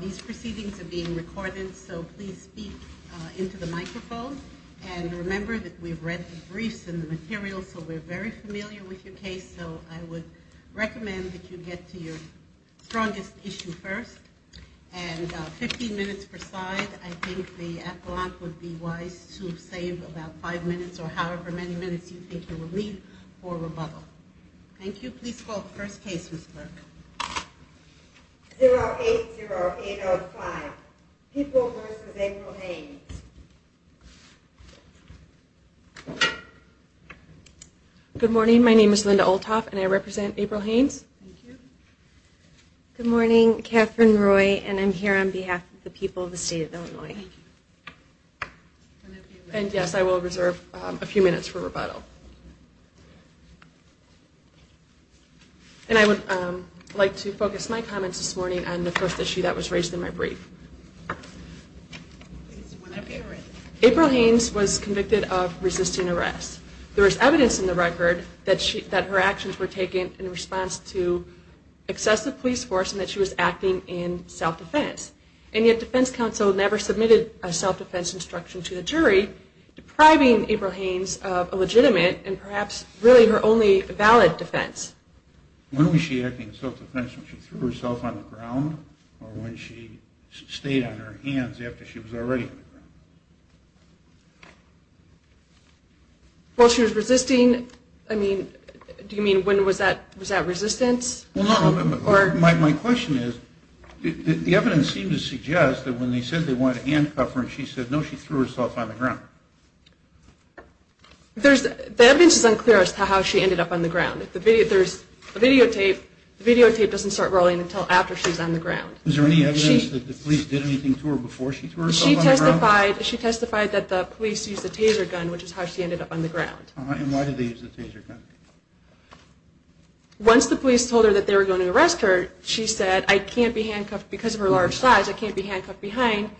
These proceedings are being recorded, so please speak into the microphone. And remember that we've read the briefs and the materials, so we're very familiar with your case, so I would recommend that you get to your strongest issue first. And 15 minutes per side, I think the appellant would be wise to save about five minutes or however many minutes you think you will need for rebuttal. Thank you. Please call the first case, Ms. Burke. 080805, People v. April Haynes. Good morning, my name is Linda Olthoff and I represent April Haynes. Good morning, Katherine Roy, and I'm here on behalf of the people of the state of Illinois. And yes, I will reserve a few minutes for rebuttal. And I would like to focus my comments this morning on the first issue that was raised in my brief. April Haynes was convicted of resisting arrest. There is evidence in the record that her actions were taken in response to excessive police force and that she was acting in self-defense. And yet defense counsel never submitted a self-defense instruction to the jury, depriving April Haynes of a legitimate and perhaps really her only valid defense. When was she acting in self-defense, when she threw herself on the ground or when she stayed on her hands after she was already on the ground? Well, she was resisting, I mean, do you mean when was that resistance? Well, no, my question is, the evidence seems to suggest that when they said they wanted to handcuff her and she said no, she threw herself on the ground. The evidence is unclear as to how she ended up on the ground. The videotape doesn't start rolling until after she's on the ground. Is there any evidence that the police did anything to her before she threw herself on the ground? She testified that the police used a taser gun, which is how she ended up on the ground. And why did they use the taser gun? Once the police told her that they were going to arrest her, she said, I can't be handcuffed because of her large size, I can't be handcuffed behind,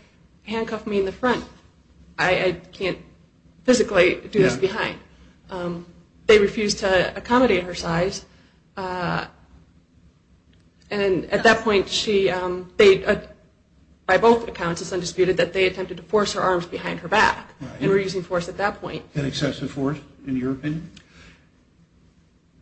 handcuff me in the front. I can't physically do this behind. They refused to accommodate her size. And at that point, by both accounts, it's undisputed that they attempted to force her arms behind her back and were using force at that point. Was that excessive force, in your opinion?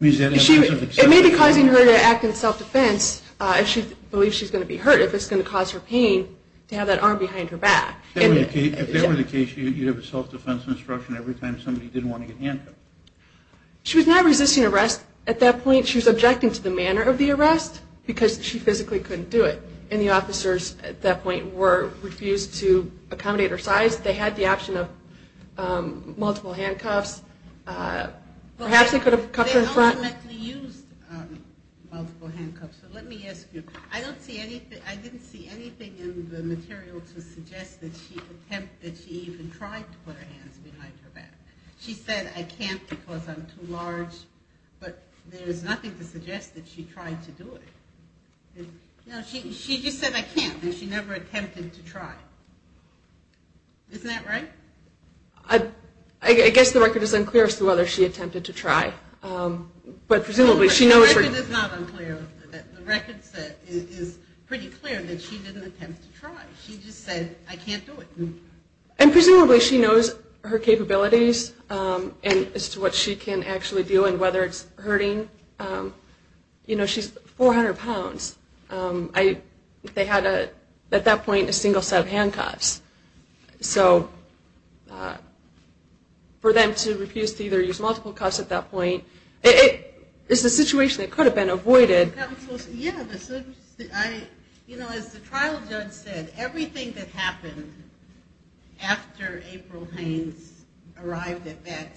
It may be causing her to act in self-defense if she believes she's going to be hurt, if it's going to cause her pain to have that arm behind her back. If that were the case, you'd have a self-defense instruction every time somebody didn't want to get handcuffed. She was not resisting arrest at that point. She was objecting to the manner of the arrest because she physically couldn't do it. And the officers at that point refused to accommodate her size. They had the option of multiple handcuffs. Perhaps they could have cuffed her in front. They ultimately used multiple handcuffs. I didn't see anything in the material to suggest that she even tried to put her hands behind her back. She said, I can't because I'm too large. But there's nothing to suggest that she tried to do it. She just said, I can't, and she never attempted to try. Isn't that right? I guess the record is unclear as to whether she attempted to try. The record is pretty clear that she didn't attempt to try. She just said, I can't do it. And presumably she knows her capabilities as to what she can actually do and whether it's hurting. You know, she's 400 pounds. They had at that point a single set of handcuffs. So for them to refuse to either use multiple cuffs at that point is a situation that could have been avoided. Yeah, as the trial judge said, everything that happened after April Haynes arrived at that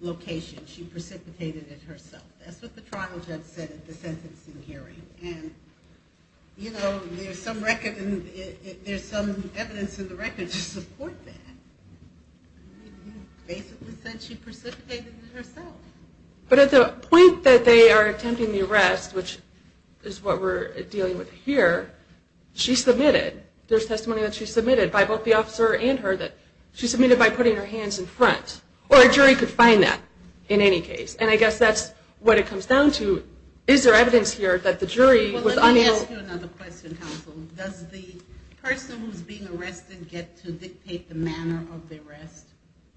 location, she precipitated it herself. That's what the trial judge said at the sentencing hearing. And you know, there's some evidence in the record to support that. She basically said she precipitated it herself. But at the point that they are attempting the arrest, which is what we're dealing with here, she submitted. There's testimony that she submitted by both the officer and her that she submitted by putting her hands in front. Or a jury could find that in any case. And I guess that's what it comes down to. Is there evidence here that the jury was unable... Let me ask you another question, counsel. Does the person who's being arrested get to dictate the manner of the arrest?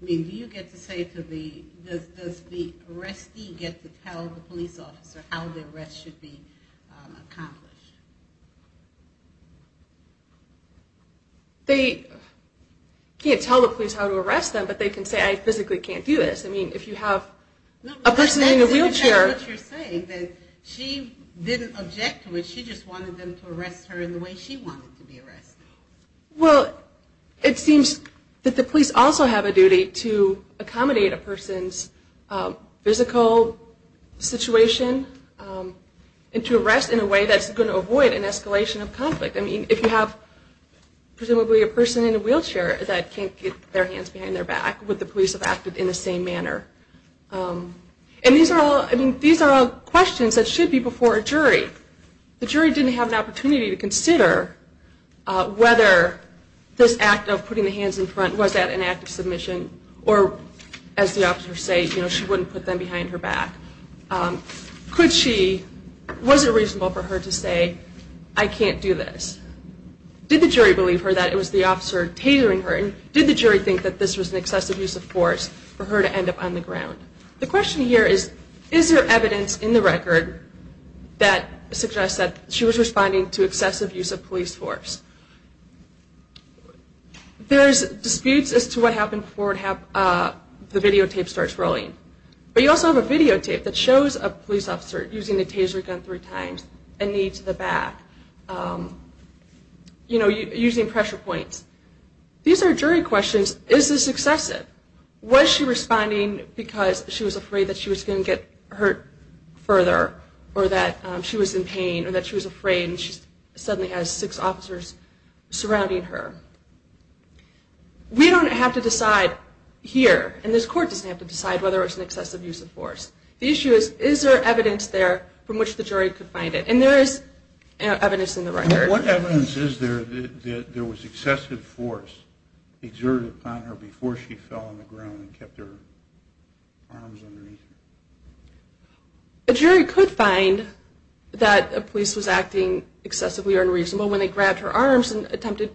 I mean, do you get to say to the... Does the arrestee get to tell the police officer how the arrest should be accomplished? They can't tell the police how to arrest them, but they can say, I physically can't do this. I mean, if you have a person in a wheelchair... That's exactly what you're saying, that she didn't object to it. She just wanted them to arrest her in the way she wanted to be arrested. Well, it seems that the police also have a duty to accommodate a person's physical situation and to arrest in a way that's going to avoid an escalation of conflict. I mean, if you have presumably a person in a wheelchair that can't get their hands behind their back, would the police have acted in the same manner? And these are all questions that should be before a jury. The jury didn't have an opportunity to consider whether this act of putting the hands in front, was that an act of submission? Or, as the officers say, you know, she wouldn't put them behind her back. Could she... Was it reasonable for her to say, I can't do this? Did the jury believe her that it was the officer tailoring her? And did the jury think that this was an excessive use of force for her to end up on the ground? The question here is, is there evidence in the record that suggests that she was responding to excessive use of police force? There's disputes as to what happened before the videotape starts rolling. But you also have a videotape that shows a police officer using the taser gun three times and knee to the back, you know, using pressure points. These are jury questions. Is this excessive? Was she responding because she was afraid that she was going to get hurt further or that she was in pain or that she was afraid and she suddenly has six officers surrounding her? We don't have to decide here, and this court doesn't have to decide, whether it's an excessive use of force. The issue is, is there evidence there from which the jury could find it? And there is evidence in the record. What evidence is there that there was excessive force exerted upon her before she fell on the ground and kept her arms underneath her? A jury could find that a police was acting excessively unreasonable when they grabbed her arms and attempted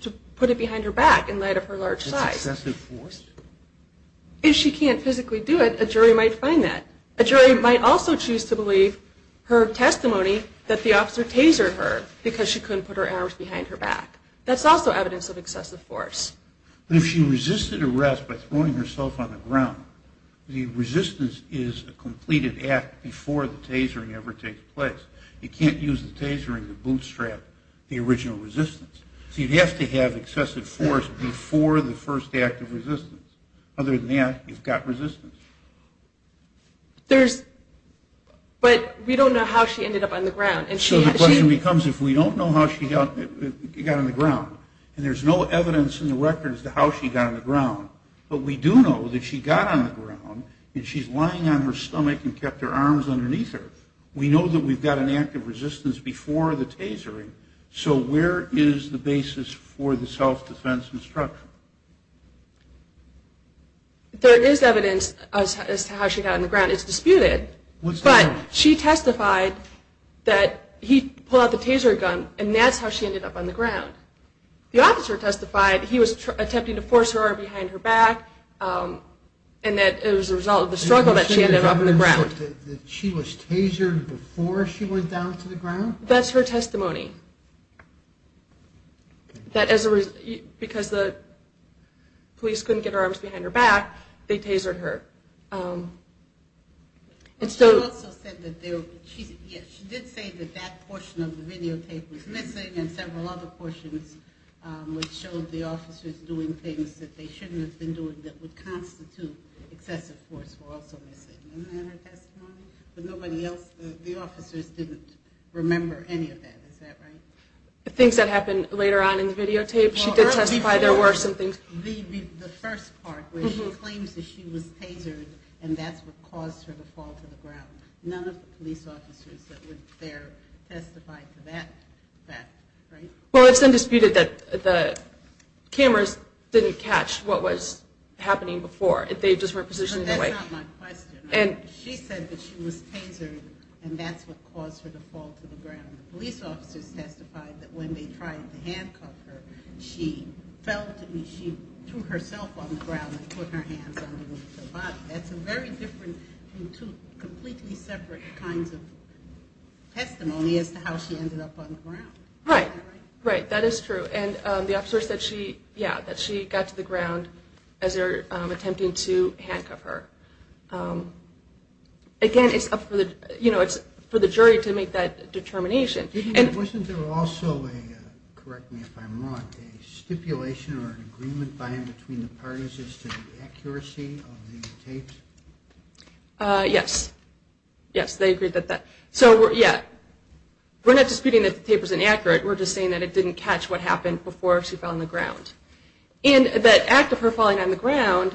to put it behind her back in light of her large size. Is this excessive force? If she can't physically do it, a jury might find that. A jury might also choose to believe her testimony that the officer tasered her because she couldn't put her arms behind her back. That's also evidence of excessive force. If she resisted arrest by throwing herself on the ground, the resistance is a completed act before the tasering ever takes place. You can't use the tasering to bootstrap the original resistance. So you'd have to have excessive force before the first act of resistance. Other than that, you've got resistance. But we don't know how she ended up on the ground. So the question becomes, if we don't know how she got on the ground, and there's no evidence in the record as to how she got on the ground, but we do know that she got on the ground and she's lying on her stomach and kept her arms underneath her, we know that we've got an act of resistance before the tasering. So where is the basis for the self-defense instruction? There is evidence as to how she got on the ground. It's disputed, but she testified that he pulled out the taser gun and that's how she ended up on the ground. The officer testified he was attempting to force her behind her back and that it was a result of the struggle that she ended up on the ground. She was tasered before she went down to the ground? That's her testimony. Because the police couldn't get her arms behind her back, they tasered her. She did say that that portion of the videotape was missing and several other portions which showed the officers doing things that they shouldn't have been doing that would constitute excessive force were also missing. Isn't that her testimony? The officers didn't remember any of that, is that right? The things that happened later on in the videotape, she did testify there were some things. The first part where she claims that she was tasered and that's what caused her to fall to the ground. None of the police officers that were there testified to that fact, right? Well, it's undisputed that the cameras didn't catch what was happening before. They just weren't positioned in the right way. That's not my question. She said that she was tasered and that's what caused her to fall to the ground. The police officers testified that when they tried to handcuff her, she fell to herself on the ground and put her hands under the body. That's a very different and two completely separate kinds of testimony as to how she ended up on the ground. Right. That is true. The officer said that she got to the ground as they were attempting to handcuff her. Again, it's up for the jury to make that determination. Wasn't there also a, correct me if I'm wrong, a stipulation or an agreement by and between the parties as to the accuracy of the tapes? Yes. Yes, they agreed to that. We're not disputing that the tape was inaccurate. We're just saying that it didn't catch what happened before she fell on the ground. And that act of her falling on the ground,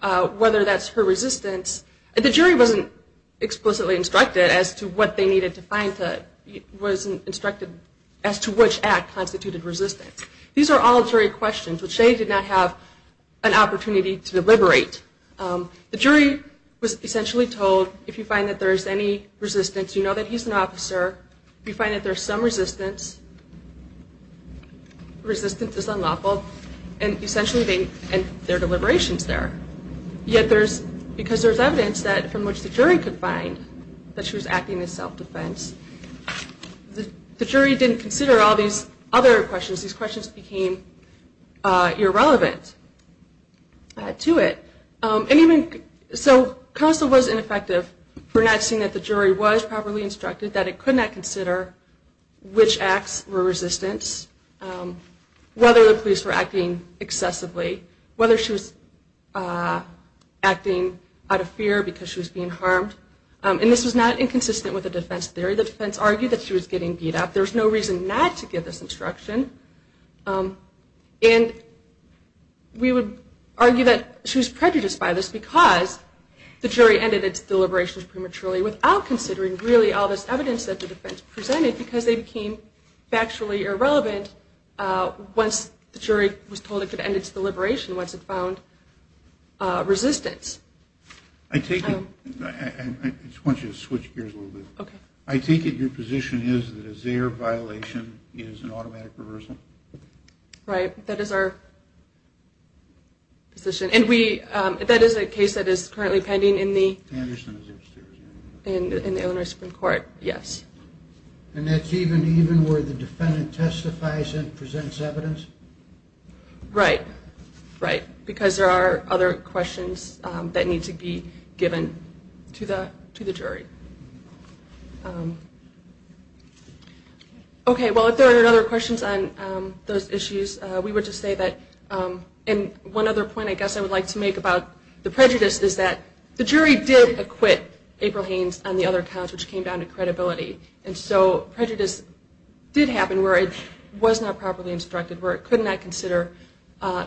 whether that's her resistance, the jury wasn't explicitly instructed as to what they needed to find, wasn't instructed as to which act constituted resistance. These are all jury questions, which they did not have an opportunity to deliberate. The jury was essentially told if you find that there is any resistance, you know that he's an officer. If you find that there's some resistance, resistance is unlawful, and essentially their deliberation is there. Yet because there's evidence from which the jury could find that she was acting as self-defense, the jury didn't consider all these other questions. These questions became irrelevant to it. So counsel was ineffective for not seeing that the jury was properly instructed, that it could not consider which acts were resistance, whether the police were acting excessively, whether she was acting out of fear because she was being harmed. And this was not inconsistent with the defense theory. The defense argued that she was getting beat up. There was no reason not to give this instruction. And we would argue that she was prejudiced by this because the jury ended its deliberations prematurely without considering really all this evidence that the defense presented because they became factually irrelevant once the jury was told it could end its deliberation, once it found resistance. I just want you to switch gears a little bit. Okay. I take it your position is that a Zayer violation is an automatic reversal? Right. That is our position. And that is a case that is currently pending in the In the Illinois Supreme Court, yes. And that's even where the defendant testifies and presents evidence? Right. Right. Because there are other questions that need to be given to the jury. Okay. Well, if there are other questions on those issues, we would just say that one other point I guess I would like to make about the prejudice is that the jury did acquit April Haynes on the other counts, which came down to credibility. And so prejudice did happen where it was not properly instructed, where it could not consider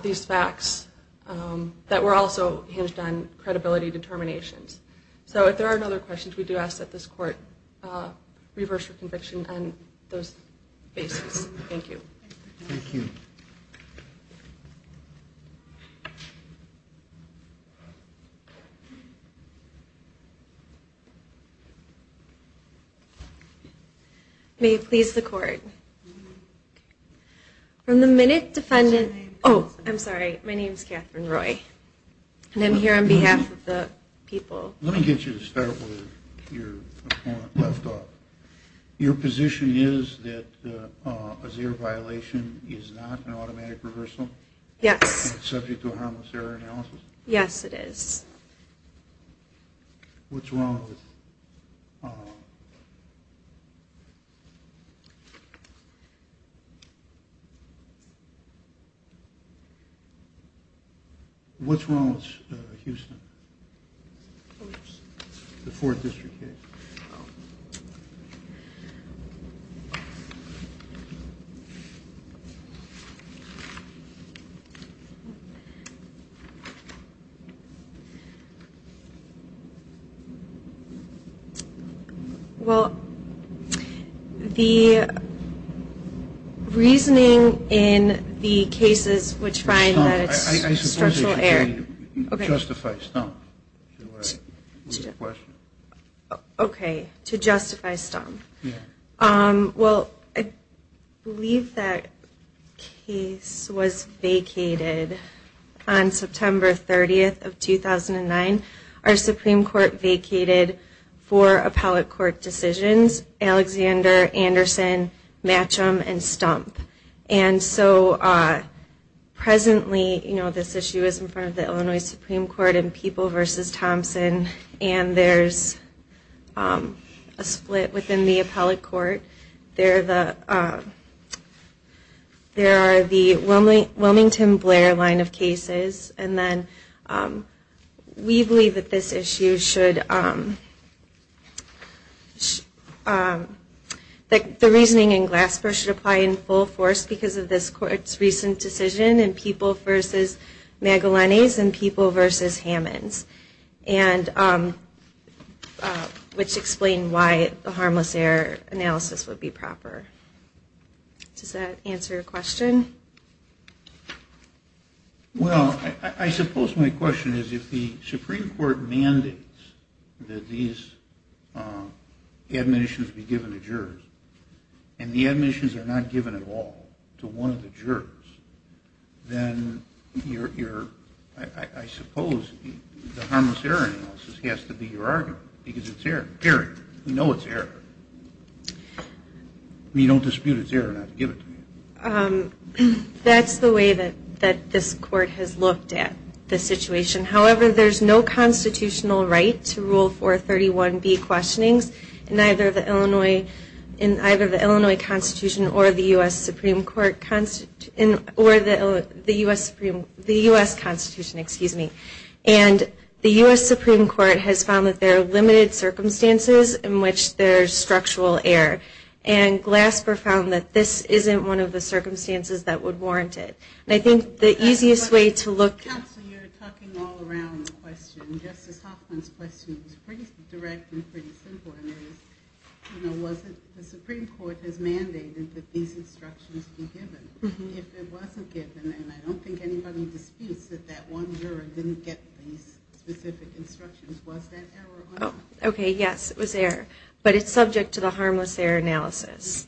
these facts that were also hinged on credibility determinations. So if there are no other questions, we do ask that this court reverse your conviction on those bases. Thank you. Thank you. May it please the Court. From the minute defendant – oh, I'm sorry. My name is Catherine Roy, and I'm here on behalf of the people. Let me get you to start with your point left off. Your position is that a Zayer violation is not an automatic reversal? Yes. Subject to a harmless error analysis? Yes, it is. What's wrong with – What's wrong with Houston? The Fourth District case? Oh. Well, the reasoning in the cases which find that it's structural error – Stop. What's your question? Okay. To justify stump. Yeah. Well, I believe that case was vacated on September 30th of 2009. Our Supreme Court vacated four appellate court decisions, Alexander, Anderson, Matcham, and Stump. Presently, this issue is in front of the Illinois Supreme Court in People v. Thompson, and there's a split within the appellate court. There are the Wilmington-Blair line of cases, and then we believe that this issue should – that the reasoning in Glasper should apply in full force because of this court's recent decision in People v. Magellanes and People v. Hammonds, which explain why the harmless error analysis would be proper. Does that answer your question? Well, I suppose my question is if the Supreme Court mandates that these admonitions be given to jurors and the admonitions are not given at all to one of the jurors, then I suppose the harmless error analysis has to be your argument because it's error. We know it's error. We don't dispute it's error not to give it to you. That's the way that this court has looked at the situation. However, there's no constitutional right to Rule 431B questionings in either the Illinois Constitution or the U.S. Constitution, and the U.S. Supreme Court has found that there are limited circumstances in which there's structural error, and Glasper found that this isn't one of the circumstances that would warrant it. And I think the easiest way to look – Counsel, you're talking all around the question. Justice Hoffman's question was pretty direct and pretty simple, and it was, you know, was it – the Supreme Court has mandated that these instructions be given. If it wasn't given, then I don't think anybody disputes that that one juror didn't get these specific instructions. Was that error or not? Okay, yes, it was error. But it's subject to the harmless error analysis.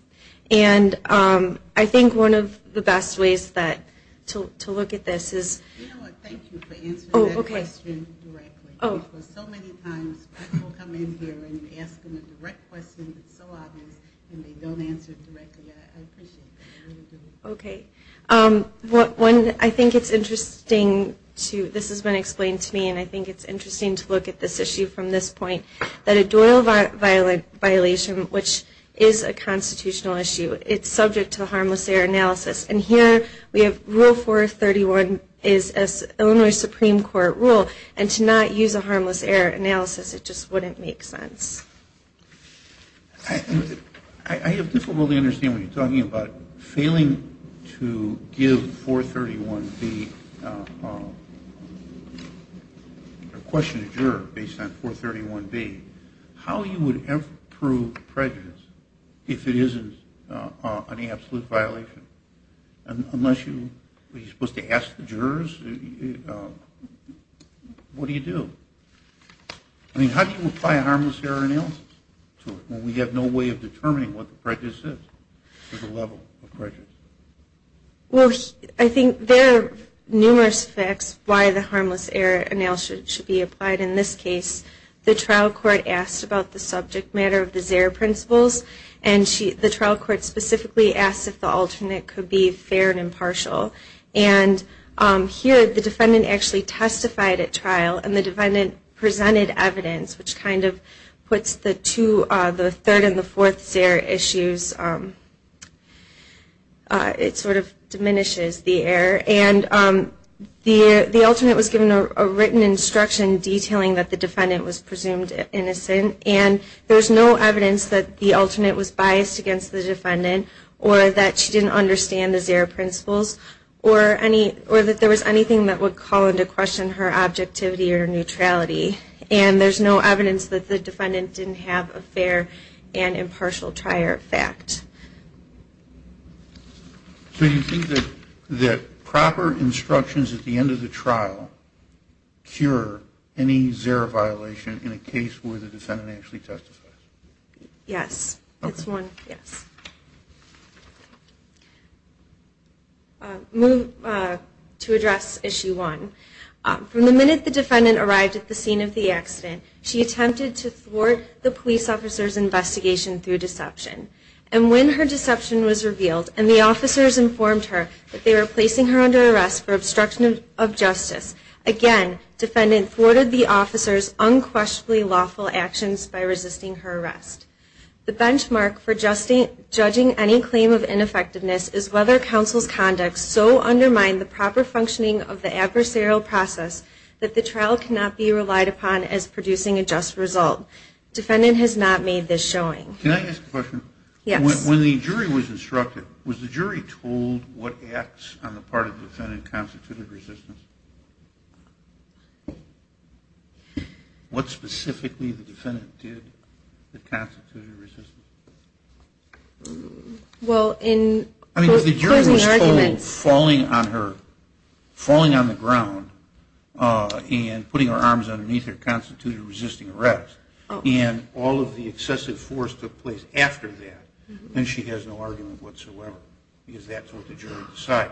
And I think one of the best ways to look at this is – You know what, thank you for answering that question directly. Because so many times people come in here and you ask them a direct question that's so obvious, and they don't answer it directly. I appreciate that. I really do. Okay. I think it's interesting to – this has been explained to me, and I think it's interesting to look at this issue from this point, that a Doyle violation, which is a constitutional issue, it's subject to the harmless error analysis. And here we have Rule 431 is an Illinois Supreme Court rule, and to not use a harmless error analysis, it just wouldn't make sense. I have difficulty understanding what you're talking about. Failing to give 431B, or question a juror based on 431B, how you would ever prove prejudice if it isn't an absolute violation? Unless you're supposed to ask the jurors? What do you do? I mean, how do you apply a harmless error analysis to it when we have no way of determining what the prejudice is, or the level of prejudice? Well, I think there are numerous facts why the harmless error analysis should be applied. In this case, the trial court asked about the subject matter of the ZEHR principles, and the trial court specifically asked if the alternate could be fair and impartial. And here, the defendant actually testified at trial, and the defendant presented evidence, which kind of puts the third and the fourth ZEHR issues, it sort of diminishes the error. And the alternate was given a written instruction detailing that the defendant was presumed innocent, and there's no evidence that the alternate was biased against the defendant, or that she didn't understand the ZEHR principles, or that there was anything that would call into question her objectivity or neutrality. And there's no evidence that the defendant didn't have a fair and impartial trial fact. So you think that proper instructions at the end of the trial cure any ZEHR violation in a case where the defendant actually testified? Yes. To address issue one, from the minute the defendant arrived at the scene of the accident, she attempted to thwart the police officer's investigation through deception. And when her deception was revealed, and the officers informed her that they were placing her under arrest for obstruction of justice, again, the defendant thwarted the officer's unquestionably lawful actions by resisting her arrest. The benchmark for judging any claim of ineffectiveness is whether counsel's conduct so undermined the proper functioning of the adversarial process that the trial cannot be relied upon as producing a just result. Defendant has not made this showing. Can I ask a question? Yes. When the jury was instructed, was the jury told what acts on the part of the defendant constituted resistance? What specifically the defendant did that constituted resistance? Well, in closing arguments. I mean, if the jury was told falling on her, falling on the ground and putting her arms underneath her constituted resisting arrest, and all of the excessive force took place after that, then she has no argument whatsoever, because that's what the jury decided.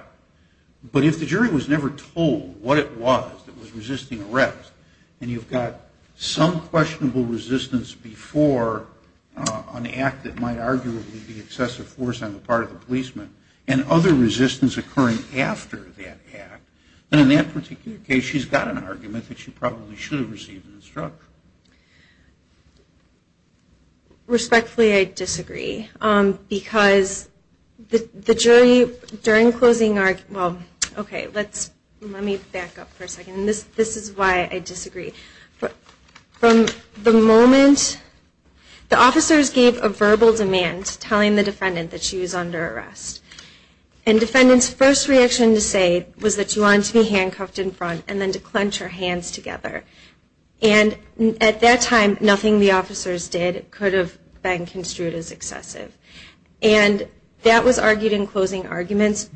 But if the jury was never told what it was that was resisting arrest, and you've got some questionable resistance before an act that might arguably be excessive force on the part of the policeman, and other resistance occurring after that act, then in that particular case she's got an argument that she probably should have received an instruction. Respectfully, I disagree. Because the jury, during closing arguments, well, okay, let me back up for a second. This is why I disagree. From the moment the officers gave a verbal demand telling the defendant that she was under arrest, and defendant's first reaction to say was that she wanted to be handcuffed in front and then to clench her hands together. And at that time, nothing the officers did could have been construed as excessive. And that was argued in closing arguments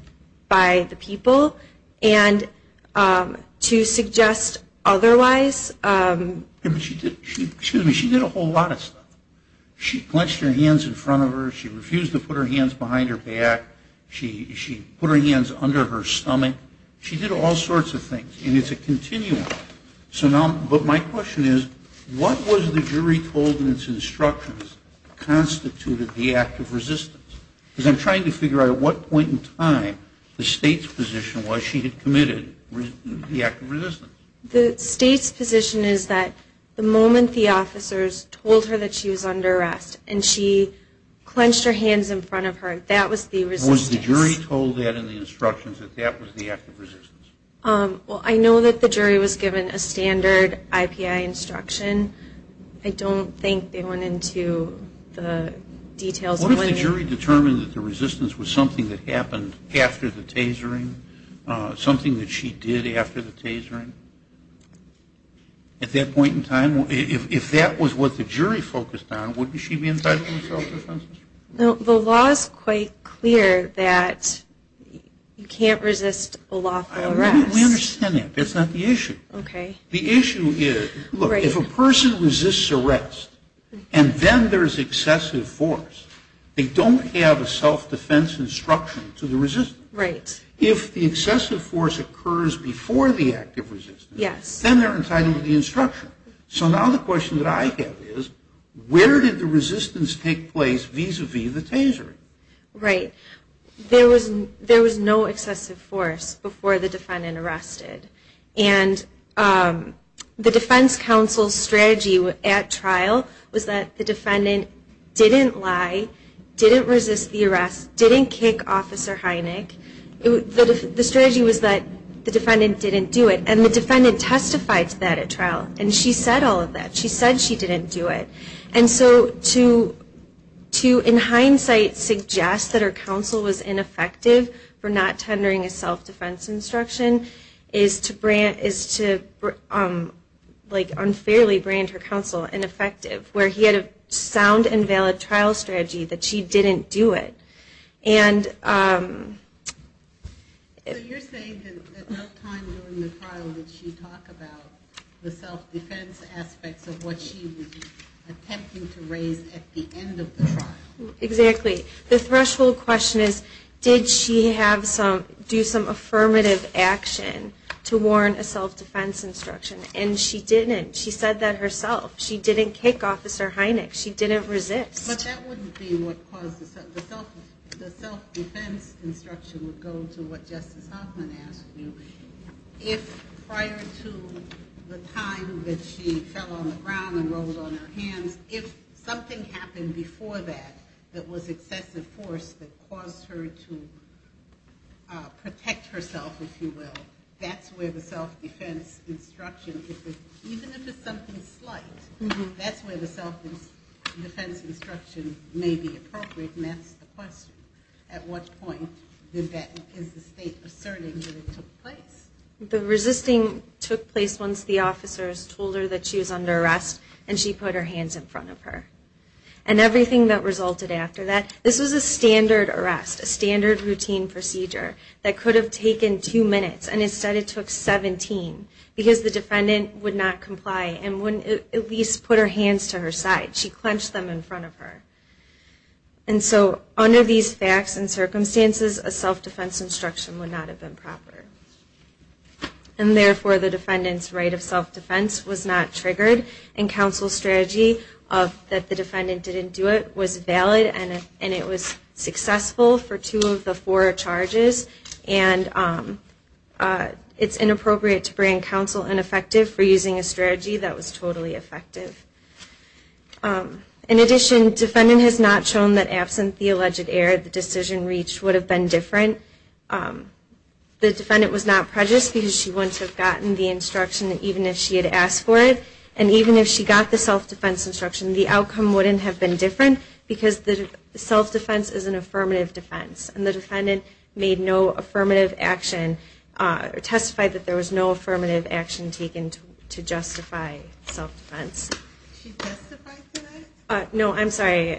by the people. And to suggest otherwise... She did a whole lot of stuff. She clenched her hands in front of her. She refused to put her hands behind her back. She put her hands under her stomach. She did all sorts of things. And it's a continuum. But my question is, what was the jury told in its instructions constituted the act of resistance? Because I'm trying to figure out at what point in time the state's position was she had committed the act of resistance. The state's position is that the moment the officers told her that she was under arrest and she clenched her hands in front of her, that was the resistance. What if the jury told that in the instructions that that was the act of resistance? Well, I know that the jury was given a standard IPI instruction. I don't think they went into the details. What if the jury determined that the resistance was something that happened after the tasering, something that she did after the tasering? At that point in time, if that was what the jury focused on, wouldn't she be entitled to self-defense? The law is quite clear that you can't resist a lawful arrest. We understand that. That's not the issue. Okay. The issue is, look, if a person resists arrest and then there's excessive force, they don't have a self-defense instruction to the resistance. Right. If the excessive force occurs before the act of resistance, then they're entitled to the instruction. So now the question that I have is, where did the resistance take place vis-à-vis the tasering? Right. There was no excessive force before the defendant arrested. And the defense counsel's strategy at trial was that the defendant didn't lie, didn't resist the arrest, didn't kick Officer Hynek. The strategy was that the defendant didn't do it. And the defendant testified to that at trial. And she said all of that. She said she didn't do it. And so to, in hindsight, suggest that her counsel was ineffective for not tendering a self-defense instruction is to unfairly brand her counsel ineffective, where he had a sound and valid trial strategy that she didn't do it. So you're saying that no time during the trial did she talk about the self-defense aspects of what she was attempting to raise at the end of the trial? Exactly. The threshold question is, did she do some affirmative action to warrant a self-defense instruction? And she didn't. She said that herself. She didn't kick Officer Hynek. She didn't resist. But that wouldn't be what caused the self-defense instruction would go to what Justice Hoffman asked you. If prior to the time that she fell on the ground and rolled on her hands, if something happened before that that was excessive force that caused her to protect herself, if you will, that's where the self-defense instruction, even if it's something slight, that's where the self-defense instruction may be appropriate, and that's the question. At what point is the state asserting that it took place? The resisting took place once the officers told her that she was under arrest, and she put her hands in front of her. And everything that resulted after that, this was a standard arrest, a standard routine procedure that could have taken two minutes, and instead it took 17, because the defendant would not comply and wouldn't at least put her hands to her side. She clenched them in front of her. And so under these facts and circumstances, a self-defense instruction would not have been proper. And therefore, the defendant's right of self-defense was not triggered, and counsel's strategy that the defendant didn't do it was valid, and it was successful for two of the four charges. And it's inappropriate to bring counsel ineffective for using a strategy that was totally effective. In addition, defendant has not shown that absent the alleged error, the decision reached would have been different. The defendant was not prejudiced because she wouldn't have gotten the instruction even if she had asked for it. And even if she got the self-defense instruction, the outcome wouldn't have been different, because the self-defense is an affirmative defense. And the defendant made no affirmative action or testified that there was no affirmative action taken to justify self-defense. Did she testify to that? No, I'm sorry.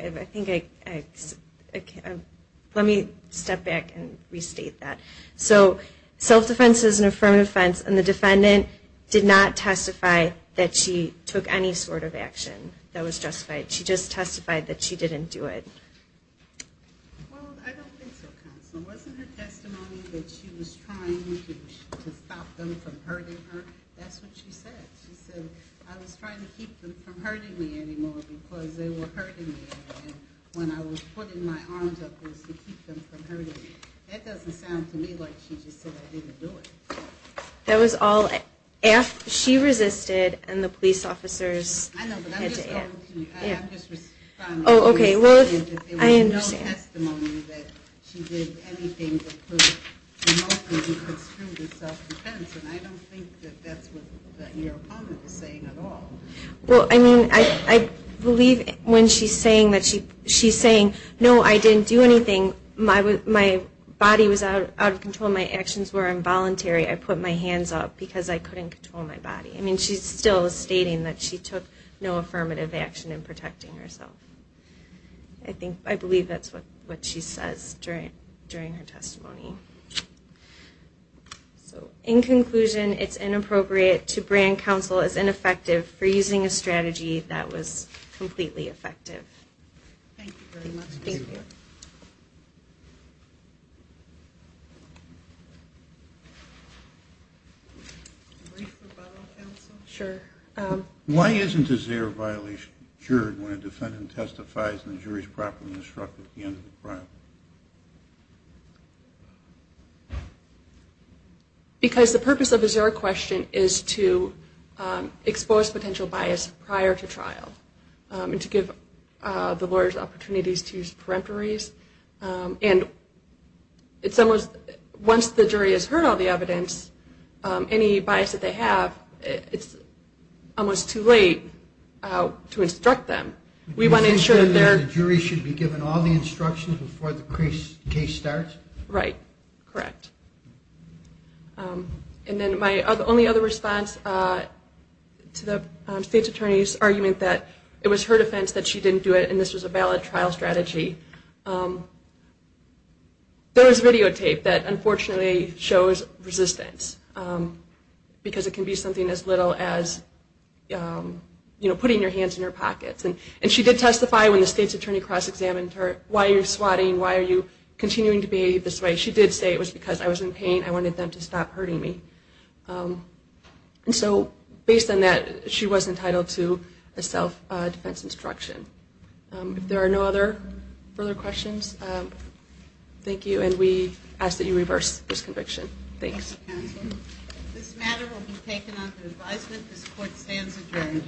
Let me step back and restate that. So self-defense is an affirmative defense, and the defendant did not testify that she took any sort of action that was justified. She just testified that she didn't do it. Well, I don't think so, counsel. Wasn't her testimony that she was trying to stop them from hurting her? That's what she said. She said, I was trying to keep them from hurting me anymore because they were hurting me. And when I was putting my arms up, it was to keep them from hurting me. That doesn't sound to me like she just said, I didn't do it. That was all she resisted, and the police officers had to answer. I know, but I'm just responding to what you're saying, that there was no testimony that she did anything that could remotely construe the self-defense. And I don't think that that's what your opponent is saying at all. Well, I mean, I believe when she's saying that she's saying, no, I didn't do anything. My body was out of control. My actions were involuntary. I put my hands up because I couldn't control my body. I mean, she's still stating that she took no affirmative action in protecting herself. I believe that's what she says during her testimony. So, in conclusion, it's inappropriate to brand counsel as ineffective for using a strategy that was completely effective. Thank you very much. Thank you. A brief rebuttal, counsel? Sure. Why isn't a zero-violation juried when a defendant testifies and the jury is properly instructed at the end of the trial? Because the purpose of a zero question is to expose potential bias prior to trial and to give the lawyers opportunities to use almost too late to instruct them. We want to ensure that their You're saying that the jury should be given all the instructions before the case starts? Right. Correct. And then my only other response to the State's Attorney's argument that it was her defense that she didn't do it and this was a valid trial strategy. There is videotape that unfortunately shows resistance because it can be something as little as putting your hands in your pockets. And she did testify when the State's Attorney cross-examined her. Why are you swatting? Why are you continuing to behave this way? She did say it was because I was in pain. I wanted them to stop hurting me. And so, based on that, she was entitled to a self-defense instruction. If there are no other further questions, thank you and we ask that you reverse this conviction. Thanks. This matter will be taken under advisement. This court stands adjourned.